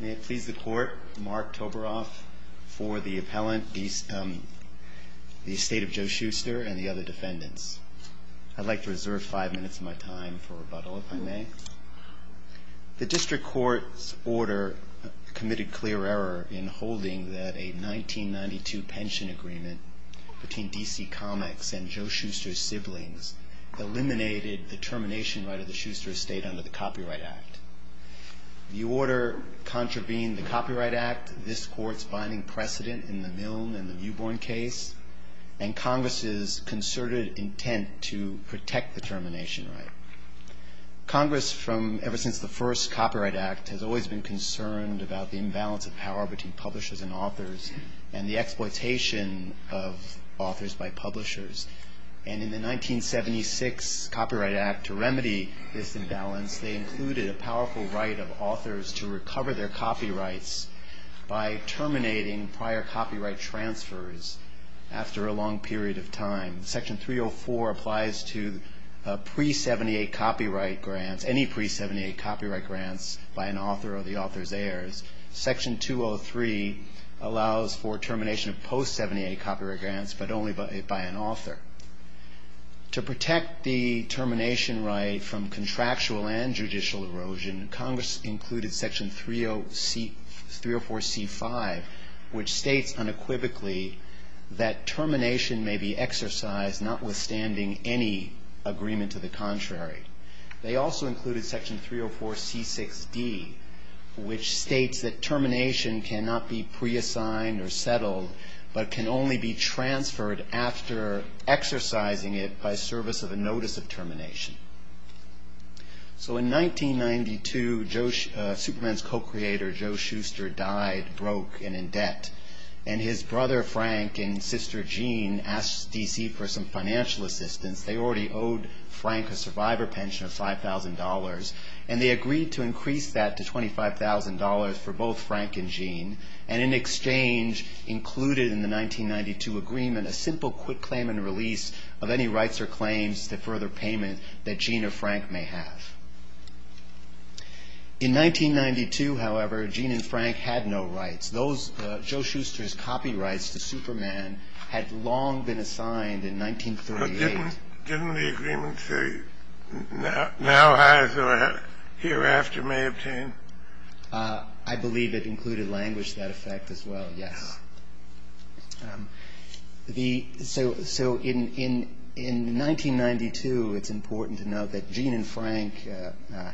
May it please the Court, Mark Toberoff for the appellant, the estate of Joe Shuster and the other defendants. I'd like to reserve five minutes of my time for rebuttal, if I may. The District Court's order committed clear error in holding that a 1992 pension agreement between DC Comics and Joe Shuster's siblings eliminated the termination right of the Shuster estate under the Copyright Act. The order contravened the Copyright Act, this Court's binding precedent in the Milne and the Newborn case, and Congress's concerted intent to protect the termination right. Congress, ever since the first Copyright Act, has always been concerned about the imbalance of power between publishers and authors and the exploitation of authors by publishers. And in the 1976 Copyright Act, to remedy this imbalance, they included a powerful right of authors to recover their copyrights by terminating prior copyright transfers after a long period of time. Section 304 applies to pre-'78 copyright grants, any pre-'78 copyright grants by an author or the author's heirs. Section 203 allows for termination of post-'78 copyright grants, but only by an author. To protect the termination right from contractual and judicial erosion, Congress included Section 304C5, which states unequivocally that termination may be exercised notwithstanding any agreement to the contrary. They also included Section 304C6D, which states that termination cannot be pre-assigned or settled, but can only be transferred after exercising it by service of a notice of termination. So in 1992, Superman's co-creator, Joe Shuster, died broke and in debt. And his brother, Frank, and sister, Jean, asked DC for some financial assistance. They already owed Frank a survivor pension of $5,000, and they agreed to increase that to $25,000 for both Frank and Jean. And in exchange, included in the 1992 agreement, a simple quick claim and release of any rights or claims to further payment that Jean or Frank may have. In 1992, however, Jean and Frank had no rights. Joe Shuster's copyrights to Superman had long been assigned in 1938. But didn't the agreement say, now as or hereafter may obtain? I believe it included language to that effect as well, yes. So in 1992, it's important to note that Jean and Frank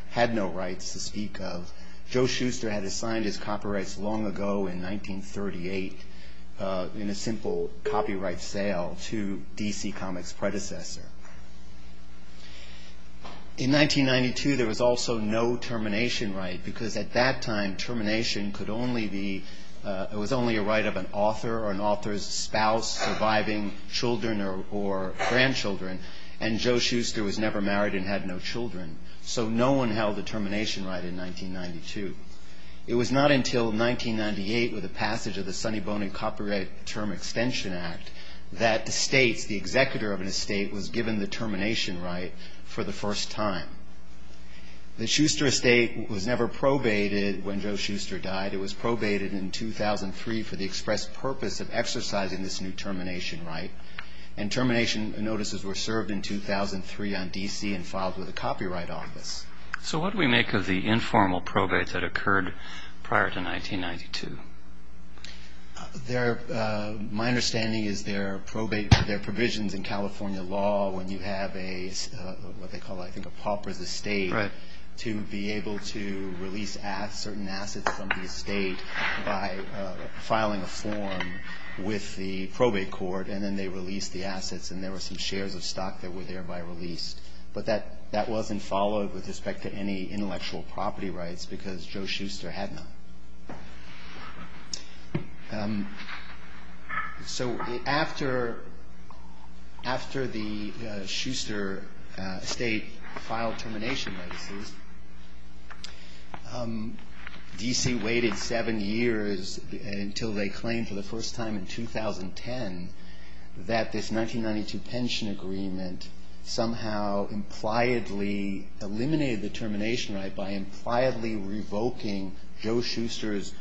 had no rights to speak of. Joe Shuster had assigned his copyrights long ago in 1938 in a simple copyright sale to DC Comics' predecessor. In 1992, there was also no termination right, because at that time, termination could only be, it was only a right of an author or an author's spouse surviving children or grandchildren. And Joe Shuster was never married and had no children. So no one held the termination right in 1992. It was not until 1998 with the passage of the Sonny Bonin Copyright Term Extension Act that the states, the executor of an estate, was given the termination right for the first time. The Shuster estate was never probated when Joe Shuster died. It was probated in 2003 for the express purpose of exercising this new termination right. And termination notices were served in 2003 on DC and filed with the Copyright Office. So what do we make of the informal probate that occurred prior to 1992? My understanding is there are provisions in California law when you have a, what they call I think a pauper's estate, to be able to release certain assets from the estate by filing a form with the probate court and then they release the assets and there were some shares of stock that were thereby released. But that wasn't followed with respect to any intellectual property rights because Joe Shuster had none. So after the Shuster estate filed termination notices, DC waited seven years until they claimed for the first time in 2010 that this 1992 pension agreement somehow impliedly eliminated the termination right by impliedly revoking Joe Shuster's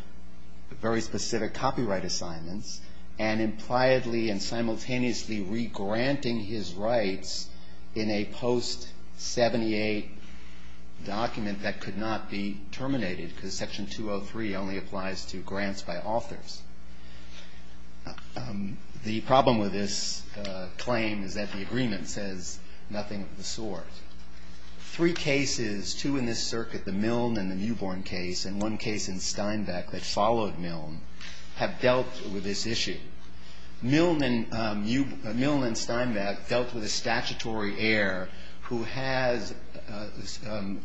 very specific copyright assignments and impliedly and simultaneously regranting his rights in a post-'78 document that could not be terminated because Section 203 only applies to grants by authors. The problem with this claim is that the agreement says nothing of the sort. Three cases, two in this circuit, the Milne and the Newborn case, and one case in Steinbeck that followed Milne, have dealt with this issue. Milne and Steinbeck dealt with a statutory heir who has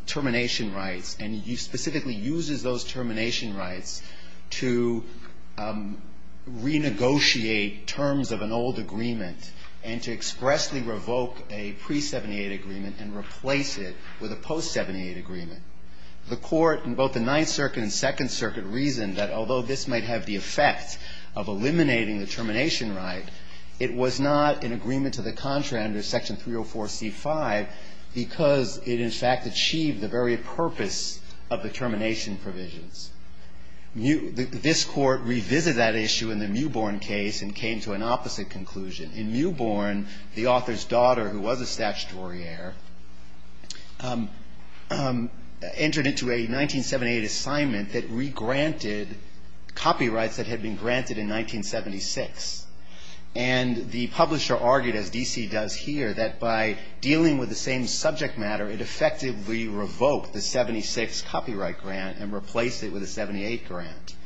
termination rights and specifically uses those termination rights to renegotiate terms of an old agreement and to expressly revoke a pre-'78 agreement and replace it with a post-'78 agreement. The court in both the Ninth Circuit and Second Circuit reasoned that although this might have the effect of eliminating the termination right, it was not in agreement to the contra under Section 304C5 because it in fact achieved the very purpose of the termination provisions. This court revisited that issue in the Newborn case and came to an opposite conclusion. In Newborn, the author's daughter, who was a statutory heir, entered into a 1978 assignment that regranted copyrights that had been granted in 1976. And the publisher argued, as D.C. does here, that by dealing with the same subject matter, it effectively revoked the 76 copyright grant and replaced it with a 78 grant.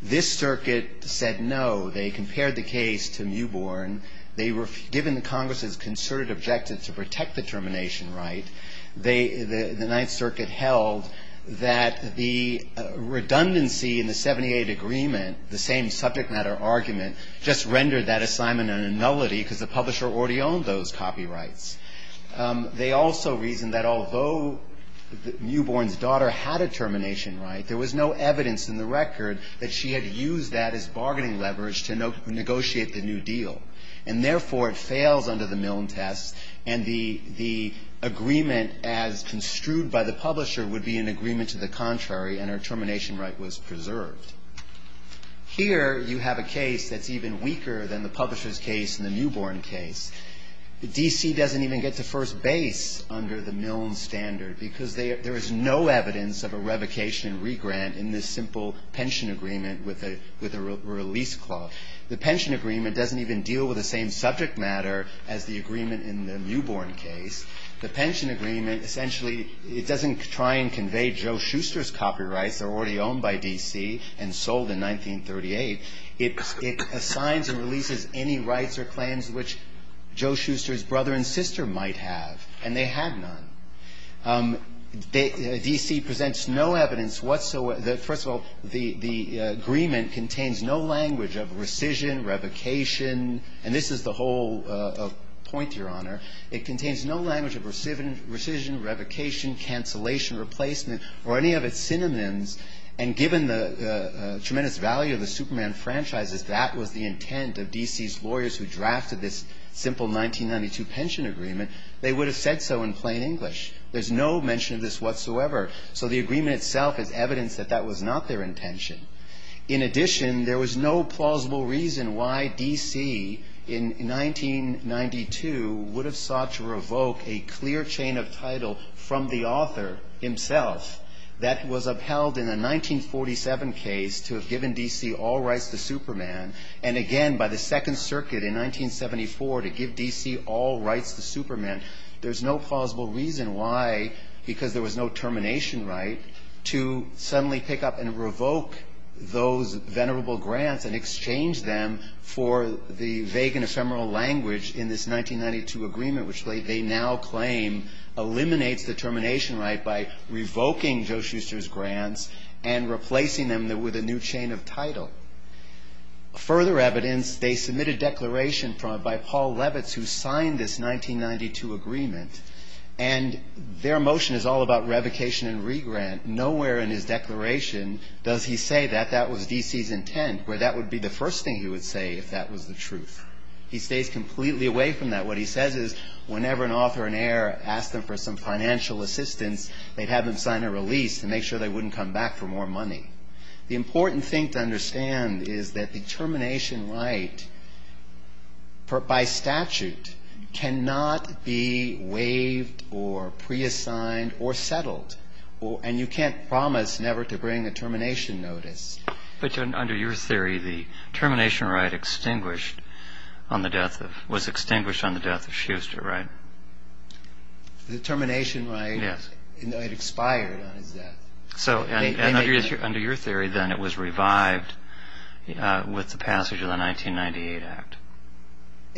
This circuit said no. They compared the case to Newborn. They were given the Congress's concerted objective to protect the termination right. The Ninth Circuit held that the redundancy in the 78 agreement, the same subject matter argument, just rendered that assignment a nullity because the publisher already owned those copyrights. They also reasoned that although Newborn's daughter had a termination right, there was no evidence in the record that she had used that as bargaining leverage to negotiate the new deal. And therefore, it fails under the Milne test, and the agreement as construed by the publisher would be an agreement to the contrary, and her termination right was preserved. Here you have a case that's even weaker than the publisher's case in the Newborn case. D.C. doesn't even get to first base under the Milne standard because there is no evidence of a revocation and regrant in this simple pension agreement with a release clause. The pension agreement doesn't even deal with the same subject matter as the agreement in the Newborn case. The pension agreement essentially doesn't try and convey Joe Shuster's copyrights. They're already owned by D.C. and sold in 1938. It assigns and releases any rights or claims which Joe Shuster's brother and sister might have, and they had none. D.C. presents no evidence whatsoever. First of all, the agreement contains no language of rescission, revocation. And this is the whole point, Your Honor. It contains no language of rescission, revocation, cancellation, replacement, or any of its synonyms. And given the tremendous value of the Superman franchises, that was the intent of D.C.'s lawyers who drafted this simple 1992 pension agreement. They would have said so in plain English. There's no mention of this whatsoever. So the agreement itself is evidence that that was not their intention. In addition, there was no plausible reason why D.C. in 1992 would have sought to revoke a clear chain of title from the author himself that was upheld in a 1947 case to have given D.C. all rights to Superman. And again, by the Second Circuit in 1974 to give D.C. all rights to Superman, there's no plausible reason why, because there was no termination right, to suddenly pick up and revoke those venerable grants and exchange them for the vague and ephemeral language in this 1992 agreement, which they now claim eliminates the termination right by revoking Joe Shuster's grants and replacing them with a new chain of title. Further evidence, they submitted declaration by Paul Levitz, who signed this 1992 agreement, and their motion is all about revocation and regrant. Nowhere in his declaration does he say that that was D.C.'s intent, where that would be the first thing he would say if that was the truth. He stays completely away from that. What he says is whenever an author and heir ask them for some financial assistance, they'd have them sign a release to make sure they wouldn't come back for more money. The important thing to understand is that the termination right, by statute, cannot be waived or pre-assigned or settled. And you can't promise never to bring a termination notice. But under your theory, the termination right was extinguished on the death of Shuster, right? The termination right, it expired on his death. So under your theory, then, it was revived with the passage of the 1998 Act.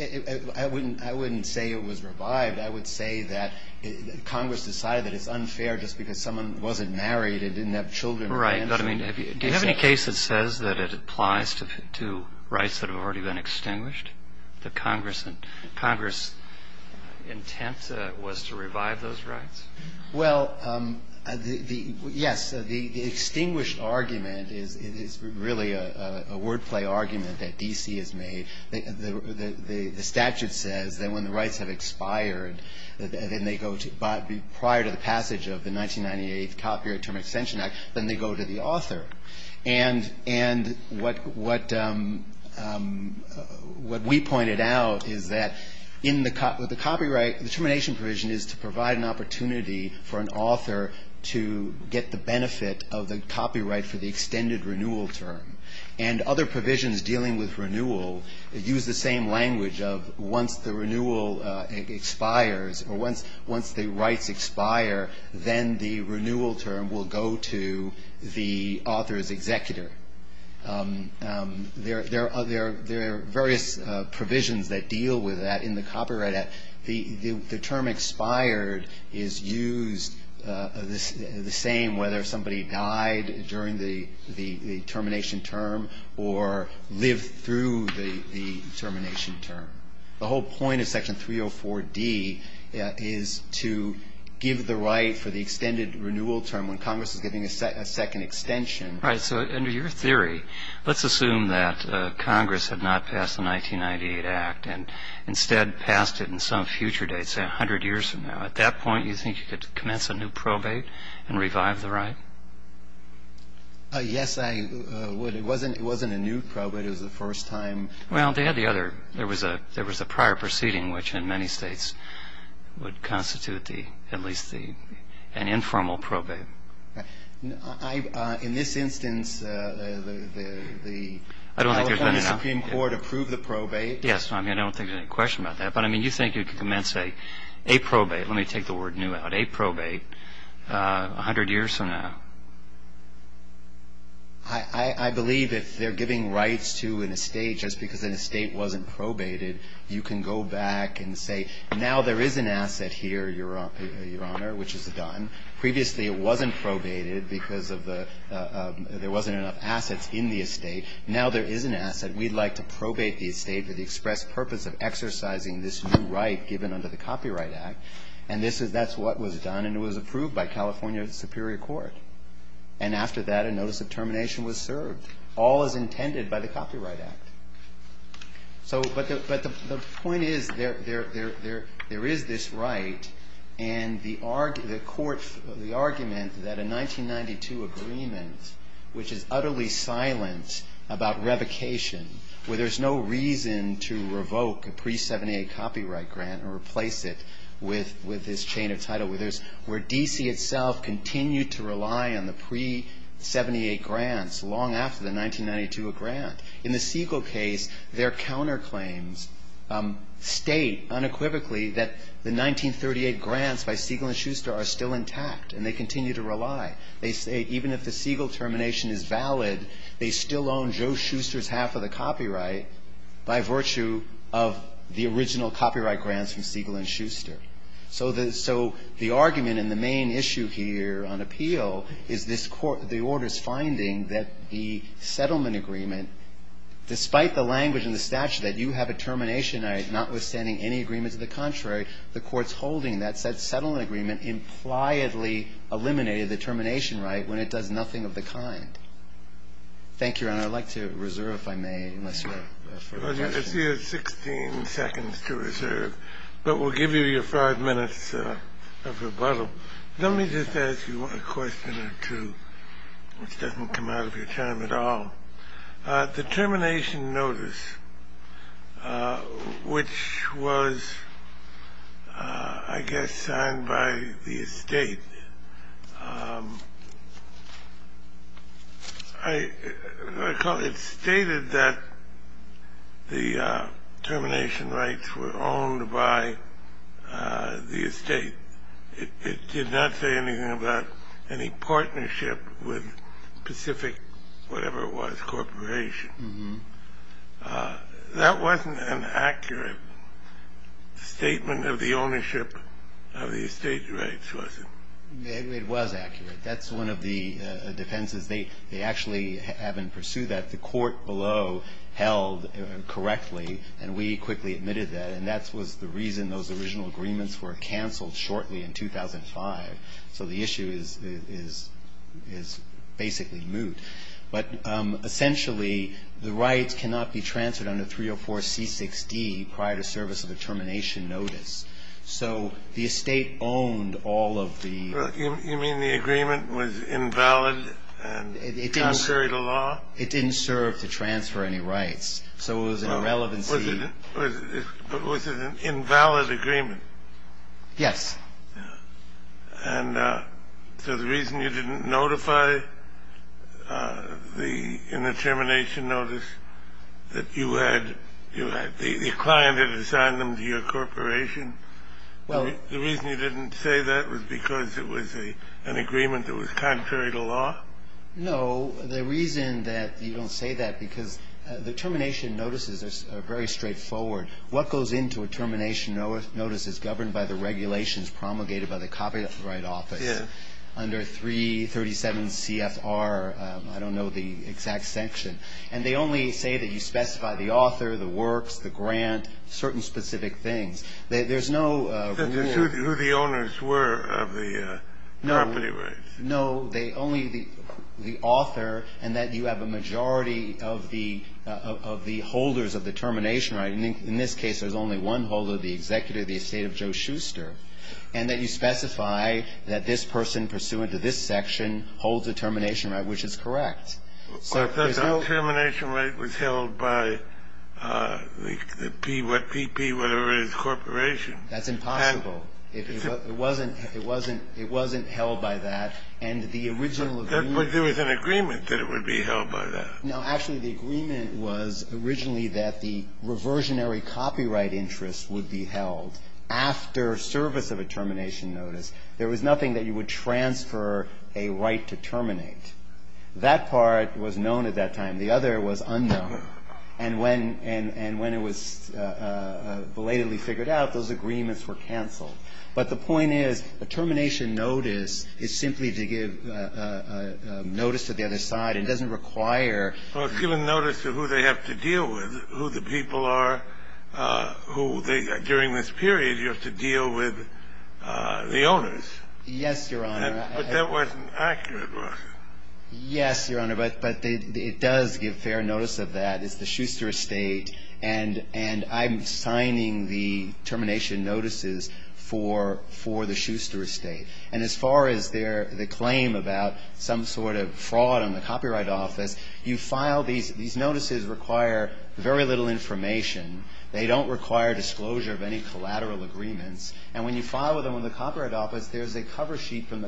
I wouldn't say it was revived. I would say that Congress decided that it's unfair just because someone wasn't married and didn't have children. Right. But, I mean, do you have any case that says that it applies to rights that have already been extinguished, that Congress' intent was to revive those rights? Well, yes. The extinguished argument is really a wordplay argument that D.C. has made. The statute says that when the rights have expired prior to the passage of the 1998 Copyright Term Extension Act, then they go to the author. And what we pointed out is that the termination provision is to provide an opportunity for an author to get the benefit of the copyright for the extended renewal term. And other provisions dealing with renewal use the same language of once the renewal expires or once the rights expire, then the renewal term will go to the author's executor. There are various provisions that deal with that in the copyright act. The term expired is used the same whether somebody died during the termination term or lived through the termination term. The whole point of Section 304D is to give the right for the extended renewal term when Congress is giving a second extension. Right. So under your theory, let's assume that Congress had not passed the 1998 Act and instead passed it in some future date, say 100 years from now. At that point, you think you could commence a new probate and revive the right? Yes, I would. It wasn't a new probate. It was the first time. Well, they had the other. There was a prior proceeding which in many states would constitute at least an informal probate. In this instance, the California Supreme Court approved the probate. Yes. I mean, I don't think there's any question about that. But, I mean, you think you could commence a probate. Let me take the word new out. A probate 100 years from now. I believe if they're giving rights to an estate just because an estate wasn't probated, you can go back and say now there is an asset here, Your Honor, which is a dime. Previously, it wasn't probated because there wasn't enough assets in the estate. Now there is an asset. We'd like to probate the estate for the express purpose of exercising this new right given under the Copyright Act. And that's what was done. And it was approved by California Superior Court. And after that, a notice of termination was served. All is intended by the Copyright Act. But the point is there is this right. And the argument that a 1992 agreement, which is utterly silent about revocation, where there's no reason to revoke a pre-'78 copyright grant or replace it with this chain of title, where D.C. itself continued to rely on the pre-'78 grants long after the 1992 grant. In the Siegel case, their counterclaims state unequivocally that the 1938 grants by Siegel and Schuster are still intact. And they continue to rely. They say even if the Siegel termination is valid, they still own Joe Schuster's half of the copyright by virtue of the original copyright grants from Siegel and Schuster. So the argument and the main issue here on appeal is this Court of the Order's finding that the settlement agreement despite the language in the statute that you have a termination right notwithstanding any agreement to the contrary, the Court's holding that said settlement agreement impliedly eliminated the termination right when it does nothing of the kind. Thank you, Your Honor. I'd like to reserve, if I may, unless you have further questions. It's 16 seconds to reserve. But we'll give you your five minutes of rebuttal. Let me just ask you a question or two, which doesn't come out of your time at all. The termination notice, which was, I guess, signed by the estate. I recall it stated that the termination rights were owned by the estate. It did not say anything about any partnership with Pacific, whatever it was, corporation. That wasn't an accurate statement of the ownership of the estate rights, was it? It was accurate. That's one of the defenses. They actually haven't pursued that. The court below held correctly, and we quickly admitted that. And that was the reason those original agreements were canceled shortly in 2005. So the issue is basically moot. But essentially, the rights cannot be transferred under 304C6D prior to service of a termination notice. So the estate owned all of the ---- You mean the agreement was invalid and contrary to law? It didn't serve to transfer any rights. So it was an irrelevancy. But was it an invalid agreement? Yes. And so the reason you didn't notify in the termination notice that you had, your client had assigned them to your corporation, the reason you didn't say that was because it was an agreement that was contrary to law? No. The reason that you don't say that, because the termination notices are very straightforward. What goes into a termination notice is governed by the regulations promulgated by the Copyright Office. Yes. Under 337CFR, I don't know the exact section. And they only say that you specify the author, the works, the grant, certain specific things. There's no rule. Who the owners were of the property rights. No. No, only the author and that you have a majority of the holders of the termination right. And in this case, there's only one holder, the executive of the estate of Joe Schuster. And that you specify that this person pursuant to this section holds the termination right, which is correct. But the termination right was held by the PPP, whatever it is, corporation. That's impossible. It wasn't held by that. And the original agreement. But there was an agreement that it would be held by that. No. Actually, the agreement was originally that the reversionary copyright interest would be held after service of a termination notice. There was nothing that you would transfer a right to terminate. That part was known at that time. The other was unknown. And when it was belatedly figured out, those agreements were canceled. But the point is a termination notice is simply to give notice to the other side. It doesn't require. Well, it's given notice to who they have to deal with, who the people are, who they during this period you have to deal with the owners. Yes, Your Honor. Yes, Your Honor. But it does give fair notice of that. It's the Schuster estate. And I'm signing the termination notices for the Schuster estate. And as far as the claim about some sort of fraud on the Copyright Office, you file these notices require very little information. They don't require disclosure of any collateral agreements. And when you file them in the Copyright Office, there's a cover sheet from the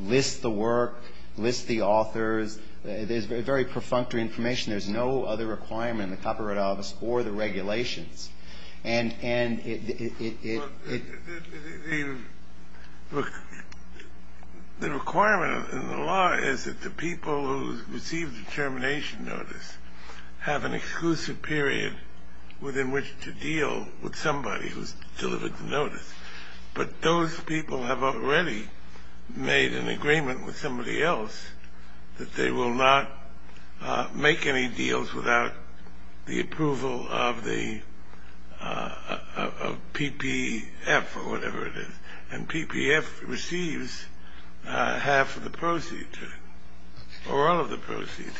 lists the work, lists the authors. There's very perfunctory information. There's no other requirement in the Copyright Office or the regulations. And it – Look, the requirement in the law is that the people who receive the termination notice have an exclusive period within which to deal with somebody who's delivered the notice. But those people have already made an agreement with somebody else that they will not make any deals without the approval of the – of PPF or whatever it is. And PPF receives half of the proceeds or all of the proceeds.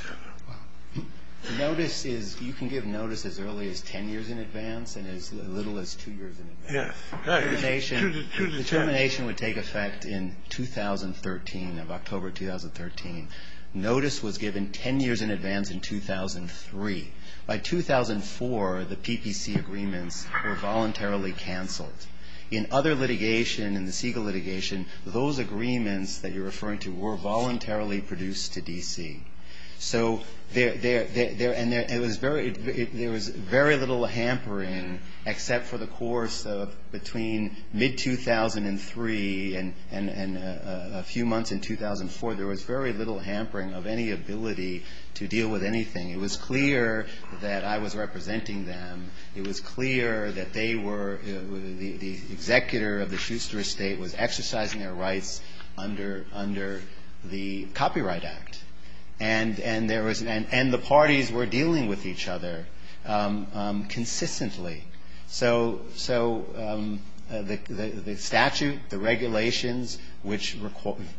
The notice is – you can give notice as early as 10 years in advance and as little as two years in advance. Yes. Go ahead. The termination would take effect in 2013, of October 2013. Notice was given 10 years in advance in 2003. By 2004, the PPC agreements were voluntarily canceled. In other litigation, in the Siegel litigation, those agreements that you're referring to were voluntarily produced to D.C. So there – and it was very – there was very little hampering except for the course of between mid-2003 and a few months in 2004. There was very little hampering of any ability to deal with anything. It was clear that I was representing them. It was clear that they were – the executor of the Schuster estate was exercising their rights under the Copyright Act. And there was – and the parties were dealing with each other consistently. So the statute, the regulations, which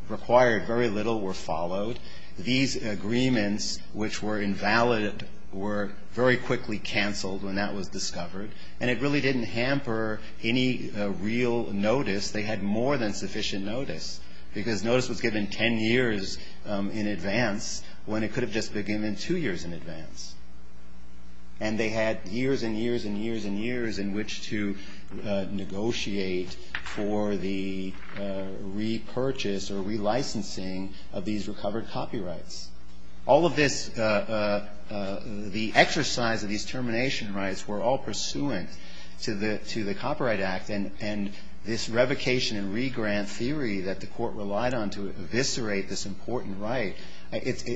required very little, were followed. These agreements, which were invalid, were very quickly canceled when that was discovered. And it really didn't hamper any real notice. They had more than sufficient notice because notice was given 10 years in advance when it could have just been given two years in advance. And they had years and years and years and years in which to negotiate for the repurchase or relicensing of these recovered copyrights. All of this – the exercise of these termination rights were all pursuant to the Copyright Act and this revocation and regrant theory that the court relied on to eviscerate this important right.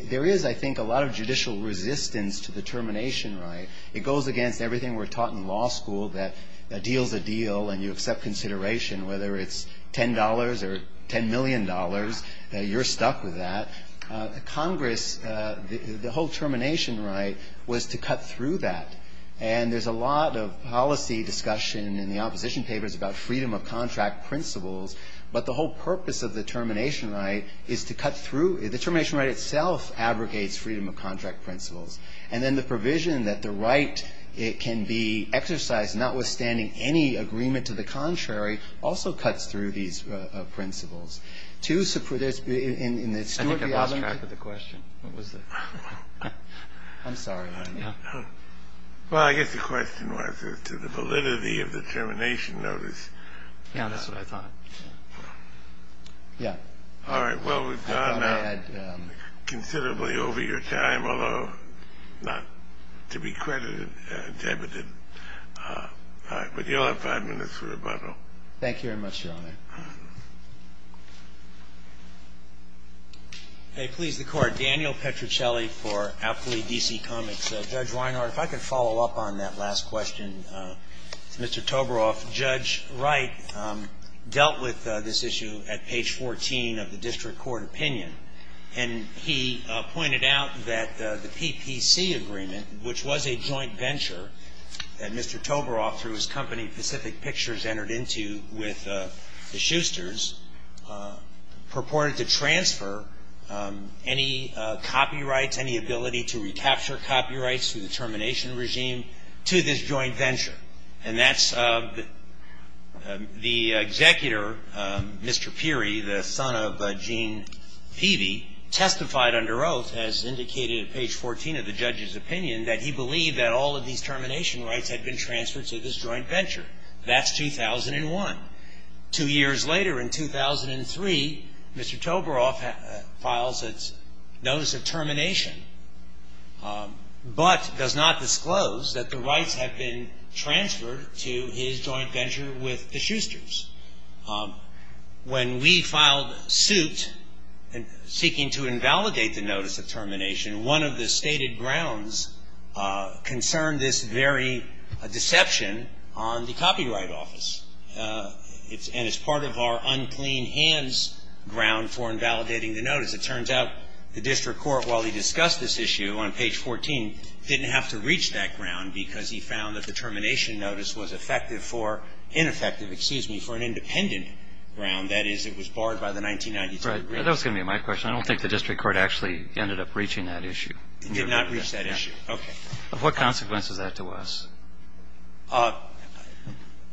There is, I think, a lot of judicial resistance to the termination right. It goes against everything we're taught in law school that a deal's a deal and you accept consideration whether it's $10 or $10 million. You're stuck with that. Congress – the whole termination right was to cut through that. And there's a lot of policy discussion in the opposition papers about freedom of contract principles. But the whole purpose of the termination right is to cut through – the termination right itself abrogates freedom of contract principles. And then the provision that the right can be exercised notwithstanding any agreement to the contrary also cuts through these principles. I think I lost track of the question. What was it? I'm sorry. Well, I guess the question was to the validity of the termination notice. Yeah, that's what I thought. Yeah. All right. Well, we've gone considerably over your time, although not to be credited. Thank you very much, Your Honor. Okay. Please, the Court. Daniel Petruccelli for Alkali D.C. Comics. Judge Weinhardt, if I could follow up on that last question to Mr. Toborow. Judge Wright dealt with this issue at page 14 of the district court opinion. And he pointed out that the PPC agreement, which was a joint venture that Mr. Toborow through his company Pacific Pictures entered into with the Schusters, purported to transfer any copyrights, any ability to recapture copyrights through the termination regime to this joint venture. And that's the executor, Mr. Peery, the son of Gene Peavy, testified under oath, as indicated at page 14 of the judge's opinion, that he believed that all of these termination rights had been transferred to this joint venture. That's 2001. Two years later, in 2003, Mr. Toborow files its notice of termination, but does not disclose that the rights have been transferred to his joint venture with the Schusters. When we filed suit seeking to invalidate the notice of termination, one of the stated grounds concerned this very deception on the copyright office. And it's part of our unclean hands ground for invalidating the notice. It turns out the district court, while he discussed this issue on page 14, didn't have to reach that ground because he found that the termination notice was effective for ineffective, excuse me, for an independent ground. That is, it was barred by the 1993 agreement. Right. That was going to be my question. I don't think the district court actually ended up reaching that issue. It did not reach that issue. Okay. What consequence is that to us?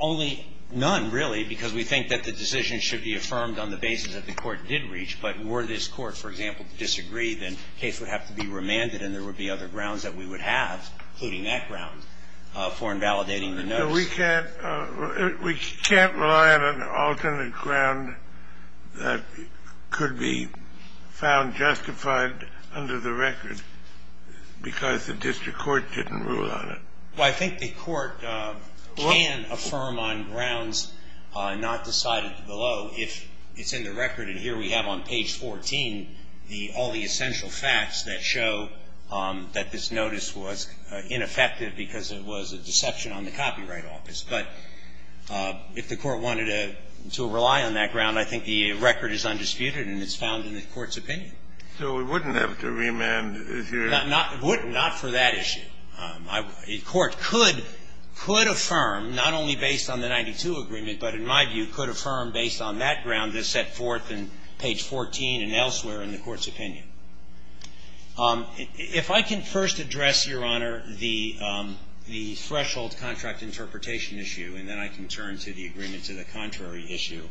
Only none, really, because we think that the decision should be affirmed on the basis that the court did reach. But were this court, for example, to disagree, then the case would have to be remanded and there would be other grounds that we would have, including that ground, for invalidating the notice. No, we can't rely on an alternate ground that could be found justified under the record because the district court didn't rule on it. Well, I think the court can affirm on grounds not decided below if it's in the record. And here we have on page 14 all the essential facts that show that this notice was ineffective because it was a deception on the copyright office. But if the court wanted to rely on that ground, I think the record is undisputed and it's found in the court's opinion. So it wouldn't have to remand if your ---- Not for that issue. A court could affirm, not only based on the 92 agreement, but in my view could affirm based on that ground that's set forth in page 14 and elsewhere in the court's opinion. If I can first address, Your Honor, the threshold contract interpretation issue and then I can turn to the agreement to the contrary issue.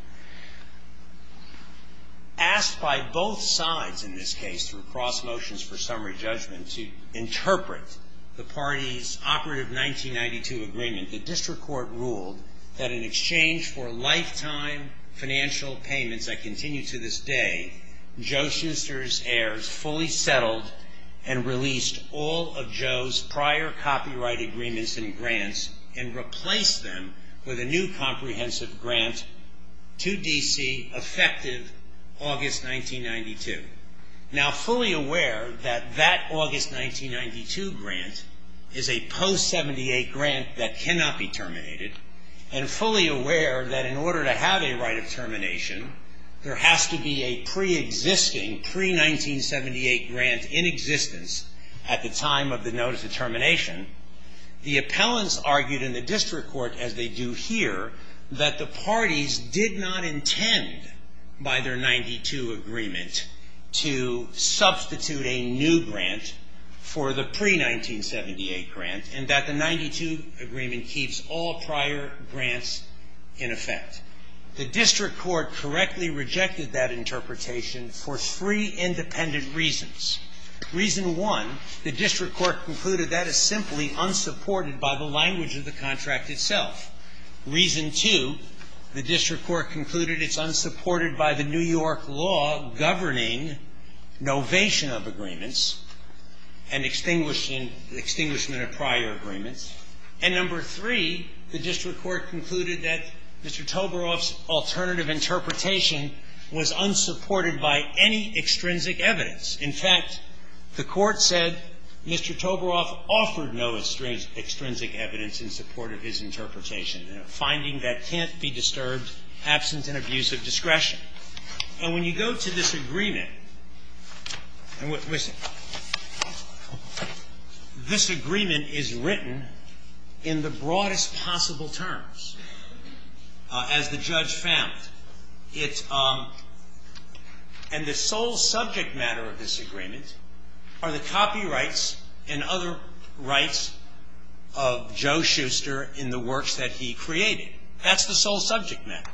Asked by both sides in this case through cross motions for summary judgment to interpret the party's operative 1992 agreement, the district court ruled that in exchange for lifetime financial payments that continue to this day, Joe Schuster's lawyers fully settled and released all of Joe's prior copyright agreements and grants and replaced them with a new comprehensive grant to D.C. effective August 1992. Now fully aware that that August 1992 grant is a post 78 grant that cannot be terminated and fully aware that in order to have a right of termination, there has to be a pre-existing, pre-1978 grant in existence at the time of the notice of termination, the appellants argued in the district court, as they do here, that the parties did not intend by their 92 agreement to substitute a new grant for the pre-1978 grant and that the 92 agreement keeps all prior grants in effect. The district court correctly rejected that interpretation for three independent reasons. Reason one, the district court concluded that is simply unsupported by the language of the contract itself. Reason two, the district court concluded it's unsupported by the New York law governing novation of agreements and extinguishing the extinguishment of prior agreements. And number three, the district court concluded that Mr. Toborow's alternative interpretation was unsupported by any extrinsic evidence. In fact, the court said Mr. Toborow offered no extrinsic evidence in support of his interpretation, a finding that can't be disturbed absent an abuse of discretion. And when you go to this agreement, and listen, this agreement is written by Mr. Toborow in the broadest possible terms, as the judge found. It's, and the sole subject matter of this agreement are the copyrights and other rights of Joe Shuster in the works that he created. That's the sole subject matter.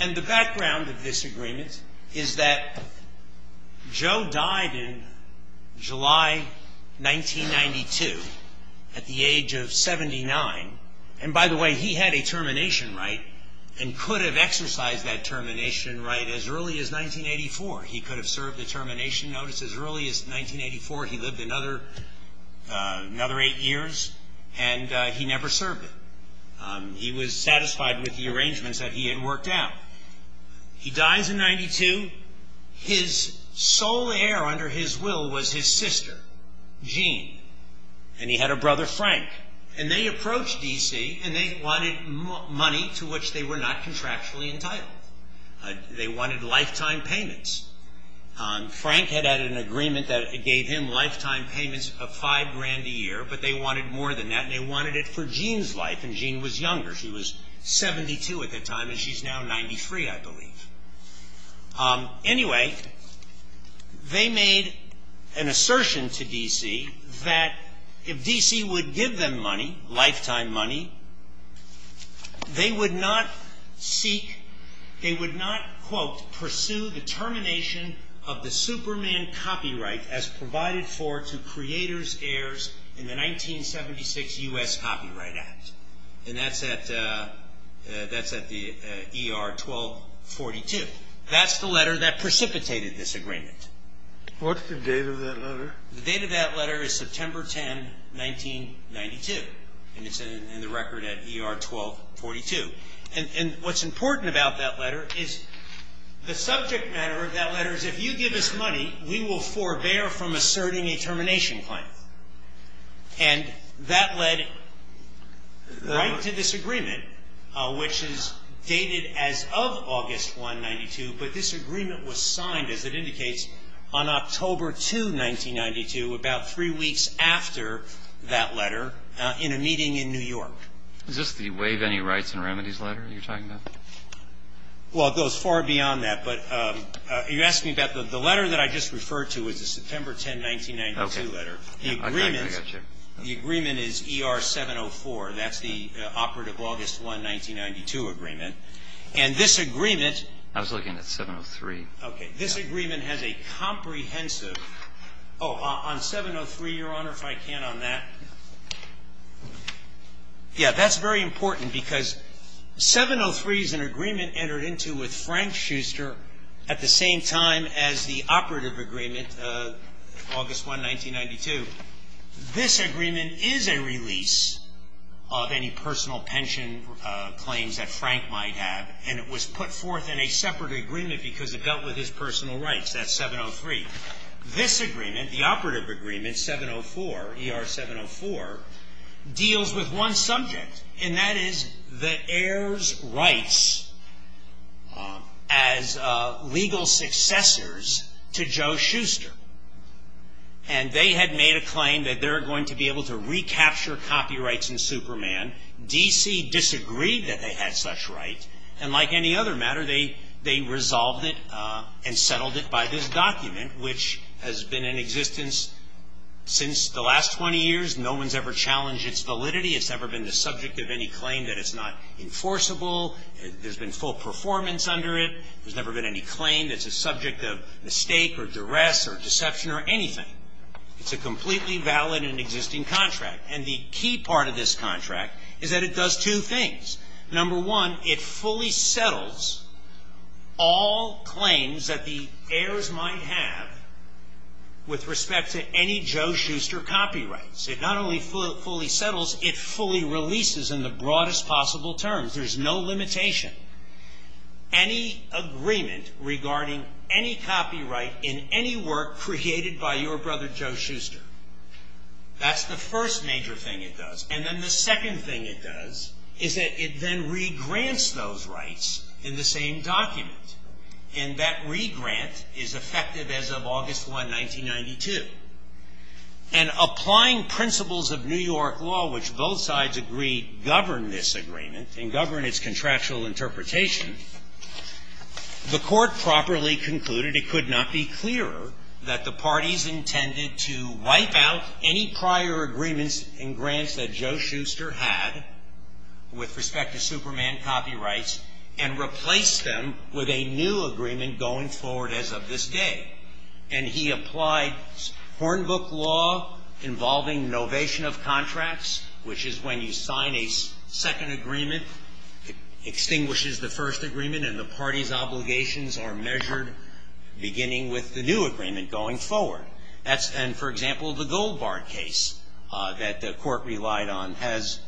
And the background of this agreement is that Joe died in July 1992 at the age of 67. And by the way, he had a termination right and could have exercised that termination right as early as 1984. He could have served the termination notice as early as 1984. He lived another eight years, and he never served it. He was satisfied with the arrangements that he had worked out. He dies in 92. His sole heir under his will was his sister, Jean. And he had a brother, Frank. And they approached D.C., and they wanted money to which they were not contractually entitled. They wanted lifetime payments. Frank had had an agreement that gave him lifetime payments of five grand a year, but they wanted more than that, and they wanted it for Jean's life. And Jean was younger. She was 72 at the time, and she's now 93, I believe. Anyway, they made an assertion to D.C. that if D.C. would give them money, lifetime money, they would not seek, they would not, quote, pursue the termination of the Superman copyright as provided for to creators, heirs in the 1976 U.S. Copyright Act. And that's at the ER 1242. That's the letter that precipitated this agreement. What's the date of that letter? The date of that letter is September 10, 1992, and it's in the record at ER 1242. And what's important about that letter is the subject matter of that letter is if you give us money, we will forbear from asserting a termination plan. And that led right to this agreement, which is dated as of August 1, 1992. But this agreement was signed, as it indicates, on October 2, 1992, about three weeks after that letter, in a meeting in New York. Is this the Waive Any Rights and Remedies letter you're talking about? Well, it goes far beyond that. But you're asking about the letter that I just referred to is the September 10, 1992 letter. I got you. The agreement is ER 704. That's the operative August 1, 1992 agreement. And this agreement – I was looking at 703. Okay. This agreement has a comprehensive – oh, on 703, Your Honor, if I can on that. Yeah, that's very important because 703 is an agreement entered into with Frank Schuster at the same time as the operative agreement, August 1, 1992. This agreement is a release of any personal pension claims that Frank might have, and it was put forth in a separate agreement because it dealt with his personal rights. That's 703. This agreement, the operative agreement, 704, ER 704, deals with one subject, and that is the heirs' rights as legal successors to Joe Schuster. And they had made a claim that they're going to be able to recapture copyrights in Superman. D.C. disagreed that they had such rights. And like any other matter, they resolved it and settled it by this document, which has been in existence since the last 20 years. No one's ever challenged its validity. It's never been the subject of any claim that it's not enforceable. There's been full performance under it. There's never been any claim that's a subject of mistake or duress or deception or anything. It's a completely valid and existing contract. And the key part of this contract is that it does two things. Number one, it fully settles all claims that the heirs might have with respect to any Joe Schuster copyrights. It not only fully settles, it fully releases in the broadest possible terms. There's no limitation. Any agreement regarding any copyright in any work created by your brother Joe Schuster, that's the first major thing it does. And then the second thing it does is that it then regrants those rights in the same document. And that regrant is effective as of August 1, 1992. And applying principles of New York law, which both sides agree govern this agreement and govern its contractual interpretation, the court properly concluded it could not be clearer that the parties intended to wipe out any prior agreements and grants that Joe Schuster had with respect to Superman copyrights and replace them with a new agreement going forward as of this day. And he applied Hornbook law involving novation of contracts, which is when you sign a second agreement, it extinguishes the first agreement and the party's obligations are measured beginning with the new agreement going forward. And, for example, the Goldbart case that the Court relied on has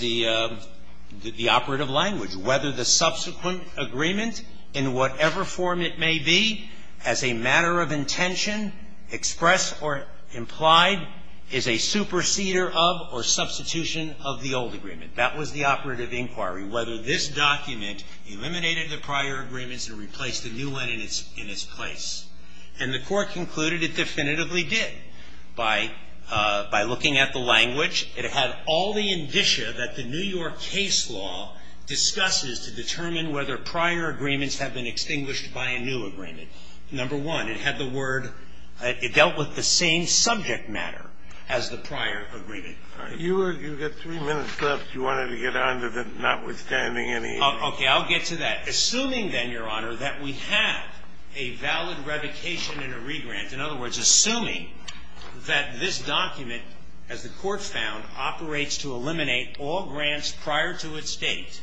the operative language, whether the subsequent agreement, in whatever form it may be, as a matter of intention, expressed or implied, is a superseder of or substitution of the old agreement. That was the operative inquiry, whether this document eliminated the prior agreements and replaced the new one in its place. And the Court concluded it definitively did. By looking at the language, it had all the indicia that the New York case law discusses to determine whether prior agreements have been extinguished by a new agreement. Number one, it had the word – it dealt with the same subject matter as the prior agreement. You were – you've got three minutes left. Do you want to get on to the notwithstanding any – Okay. I'll get to that. Assuming then, Your Honor, that we have a valid revocation and a regrant, in other words, assuming that this document, as the Court found, operates to eliminate all grants prior to its date,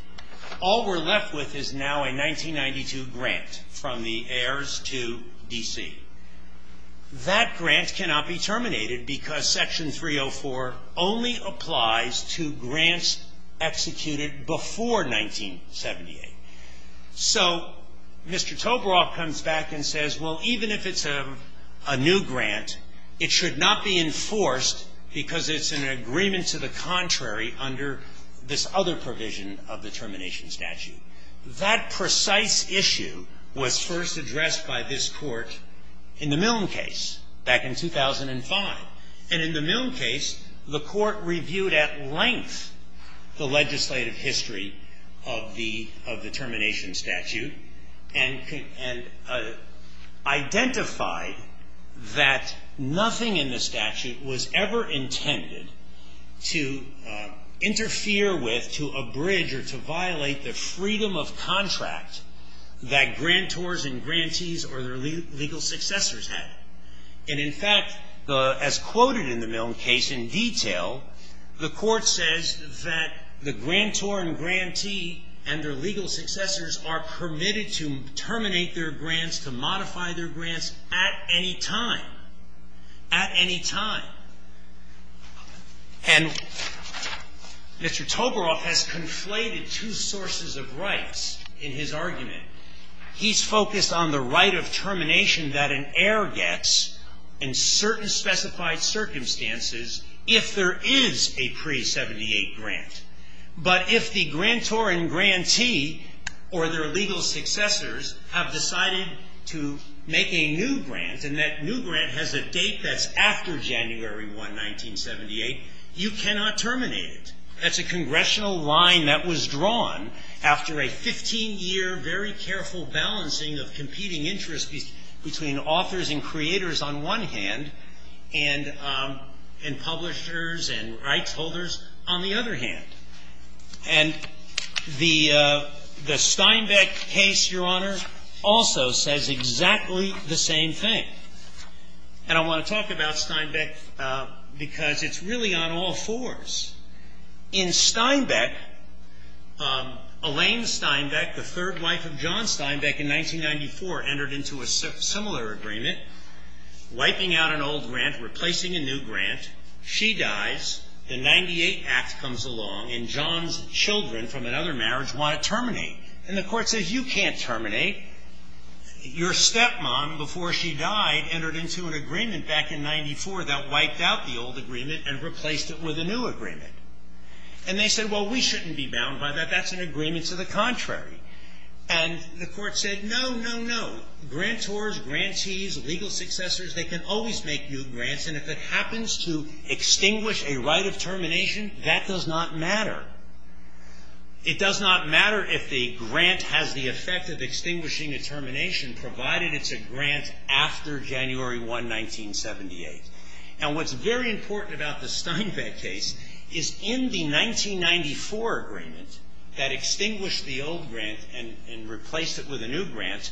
all we're left with is now a 1992 grant from the U.S. to D.C. That grant cannot be terminated because Section 304 only applies to grants executed before 1978. So Mr. Tobraw comes back and says, well, even if it's a new grant, it should not be enforced because it's an agreement to the contrary under this other provision of the termination statute. That precise issue was first addressed by this Court in the Milne case back in 2005. And in the Milne case, the Court reviewed at length the legislative history of the termination statute and identified that nothing in the statute was ever intended to interfere with, to abridge, or to violate the freedom of contract that grantors and grantees or their legal successors had. And, in fact, as quoted in the Milne case in detail, the Court says that the grantor and grantee and their legal successors are permitted to terminate their grants, to Mr. Tobraw has conflated two sources of rights in his argument. He's focused on the right of termination that an heir gets in certain specified circumstances if there is a pre-'78 grant. But if the grantor and grantee or their legal successors have decided to make a new grant that has a date that's after January 1, 1978, you cannot terminate it. That's a congressional line that was drawn after a 15-year, very careful balancing of competing interests between authors and creators on one hand and publishers and rights holders on the other hand. And the Steinbeck case, Your Honor, also says exactly the same thing. And I want to talk about Steinbeck because it's really on all fours. In Steinbeck, Elaine Steinbeck, the third wife of John Steinbeck in 1994, entered into a similar agreement, wiping out an old grant, replacing a new grant. She dies. The 98 Act comes along, and John's children from another marriage want to terminate. And the Court says, You can't terminate. Your stepmom, before she died, entered into an agreement back in 1994 that wiped out the old agreement and replaced it with a new agreement. And they said, Well, we shouldn't be bound by that. That's an agreement to the contrary. And the Court said, No, no, no. Grantors, grantees, legal successors, they can always make new grants. And if it happens to extinguish a right of termination, that does not matter. It does not matter if the grant has the effect of extinguishing a termination, provided it's a grant after January 1, 1978. And what's very important about the Steinbeck case is in the 1994 agreement that extinguished the old grant and replaced it with a new grant,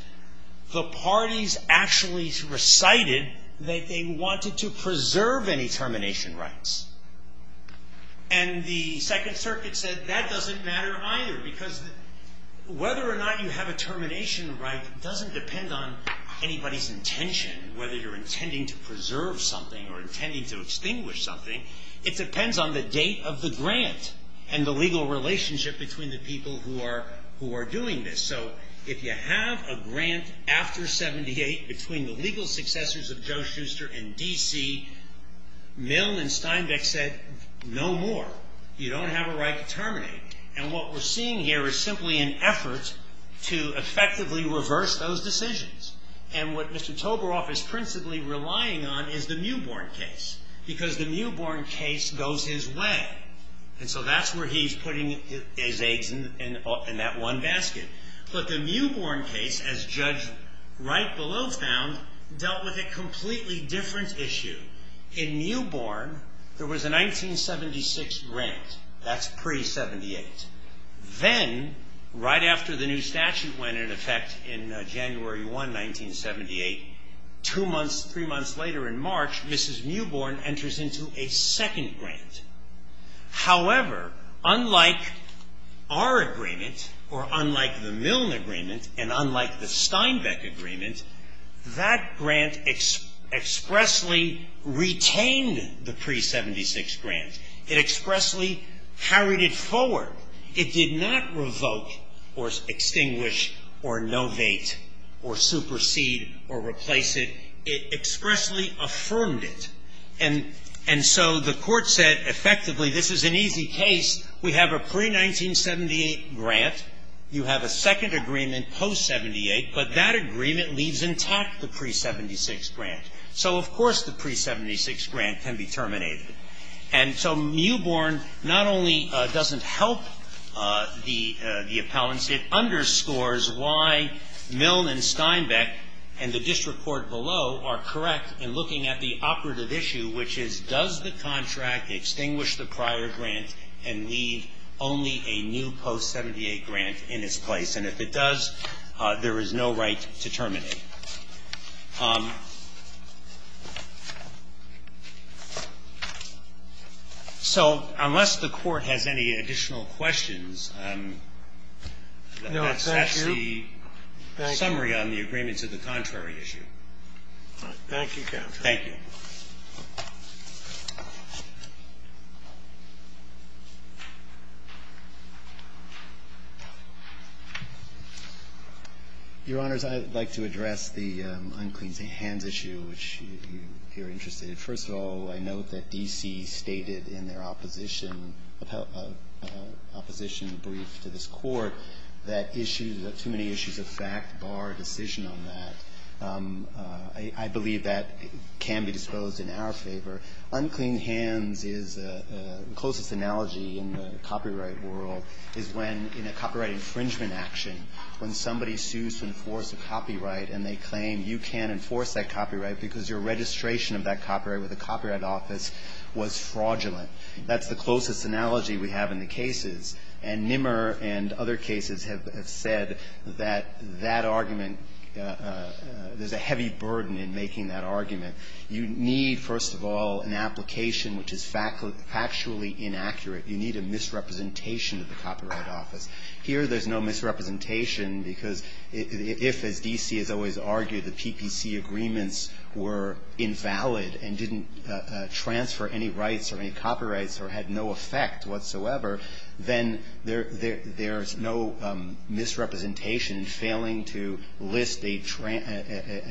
the parties actually recited that they wanted to preserve any termination rights. And the Second Circuit said, That doesn't matter either. Because whether or not you have a termination right doesn't depend on anybody's intention, whether you're intending to preserve something or intending to extinguish something. It depends on the date of the grant and the legal relationship between the people who are doing this. So if you have a grant after 78 between the legal successors of Joe Schuster and D.C., Milne and Steinbeck said, No more. You don't have a right to terminate. And what we're seeing here is simply an effort to effectively reverse those decisions. And what Mr. Toborow is principally relying on is the Mewborn case, because the Mewborn case goes his way. And so that's where he's putting his eggs in that one basket. But the Mewborn case, as judged right below found, dealt with a completely different issue. In Mewborn, there was a 1976 grant. That's pre-'78. Then, right after the new statute went into effect in January 1, 1978, two months, three months later in March, Mrs. Mewborn enters into a second grant. However, unlike our agreement, or unlike the Milne agreement, and unlike the Steinbeck agreement, that grant expressly retained the pre-'76 grant. It expressly carried it forward. It did not revoke or extinguish or novate or supersede or replace it. It expressly affirmed it. And so the Court said, effectively, this is an easy case. We have a pre-1978 grant. You have a second agreement post-'78. But that agreement leaves intact the pre-'76 grant. So, of course, the pre-'76 grant can be terminated. And so Mewborn not only doesn't help the appellants, it underscores why Milne and does the contract extinguish the prior grant and leave only a new post-'78 grant in its place? And if it does, there is no right to terminate. So unless the Court has any additional questions, that's the summary on the agreements of the contrary issue. Thank you. Thank you. Your Honors, I'd like to address the unclean hands issue, which you're interested in. First of all, I note that D.C. stated in their opposition brief to this Court that issues, too many issues of fact bar decision on that. I believe that can be disposed in our favor. Unclean hands is the closest analogy in the copyright world is when, in a copyright infringement action, when somebody sues to enforce a copyright and they claim you can't enforce that copyright because your registration of that copyright with a copyright office was fraudulent. That's the closest analogy we have in the cases. And Nimmer and other cases have said that that argument, there's a heavy burden in making that argument. You need, first of all, an application which is factually inaccurate. You need a misrepresentation of the copyright office. Here there's no misrepresentation because if, as D.C. has always argued, the PPC agreements were invalid and didn't transfer any rights or any copyrights or had no effect whatsoever, then there's no misrepresentation failing to list a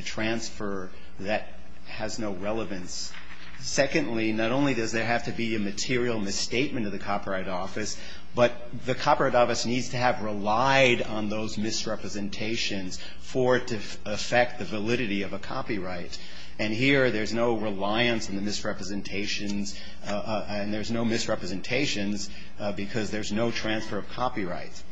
transfer that has no relevance. Secondly, not only does there have to be a material misstatement of the copyright office, but the copyright office needs to have relied on those misrepresentations for it to affect the validity of a copyright. And here there's no reliance on the misrepresentations and there's no misrepresentation because there's no transfer of copyrights.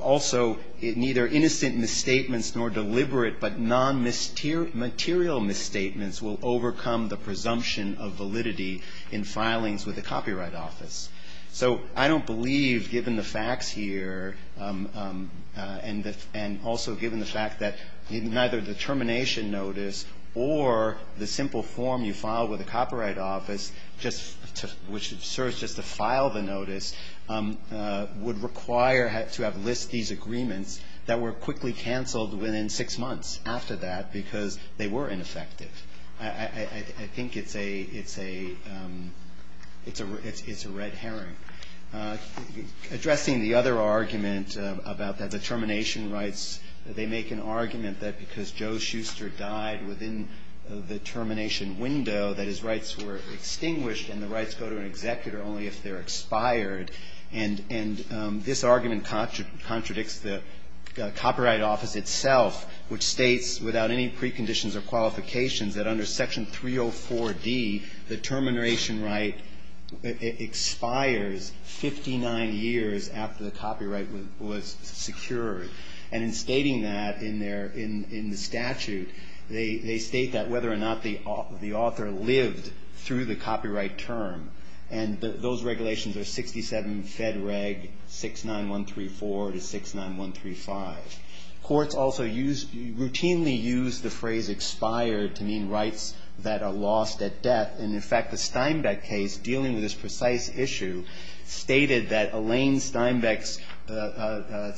Also, neither innocent misstatements nor deliberate but non-material misstatements will overcome the presumption of validity in filings with a copyright office. So I don't believe, given the facts here and also given the fact that neither the termination notice or the simple form you file with a copyright office, just to file the notice, would require to have list these agreements that were quickly canceled within six months after that because they were ineffective. I think it's a red herring. Addressing the other argument about the termination rights, they make an argument that because Joe Shuster died within the termination window, that his rights were executed only if they're expired. And this argument contradicts the copyright office itself, which states without any preconditions or qualifications that under Section 304D, the termination right expires 59 years after the copyright was secured. And in stating that in the statute, they state that whether or not the author lived through the copyright term. And those regulations are 67 Fed Reg 69134 to 69135. Courts also routinely use the phrase expired to mean rights that are lost at death. And, in fact, the Steinbeck case, dealing with this precise issue, stated that Elaine Steinbeck's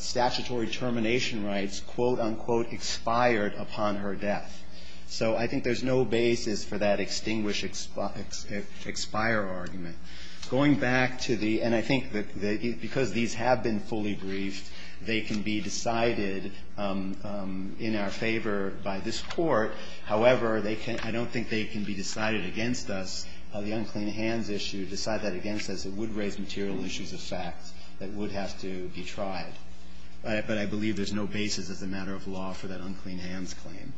statutory termination rights, quote, unquote, expired upon her death. So I think there's no basis for that extinguish, expire argument. Going back to the – and I think that because these have been fully briefed, they can be decided in our favor by this Court. However, they can't – I don't think they can be decided against us. The unclean hands issue, decide that against us, it would raise material issues of fact that would have to be tried. But I believe there's no basis as a matter of law for that unclean hands claim.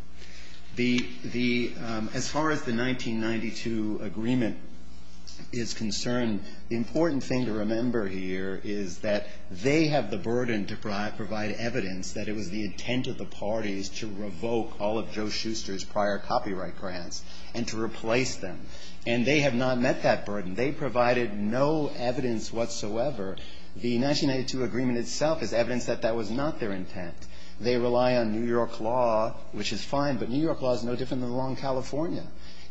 The – as far as the 1992 agreement is concerned, the important thing to remember here is that they have the burden to provide evidence that it was the intent of the parties to revoke all of Joe Shuster's prior copyright grants and to replace them. And they have not met that burden. They provided no evidence whatsoever. The 1992 agreement itself is evidence that that was not their intent. They rely on New York law, which is fine, but New York law is no different than the law in California.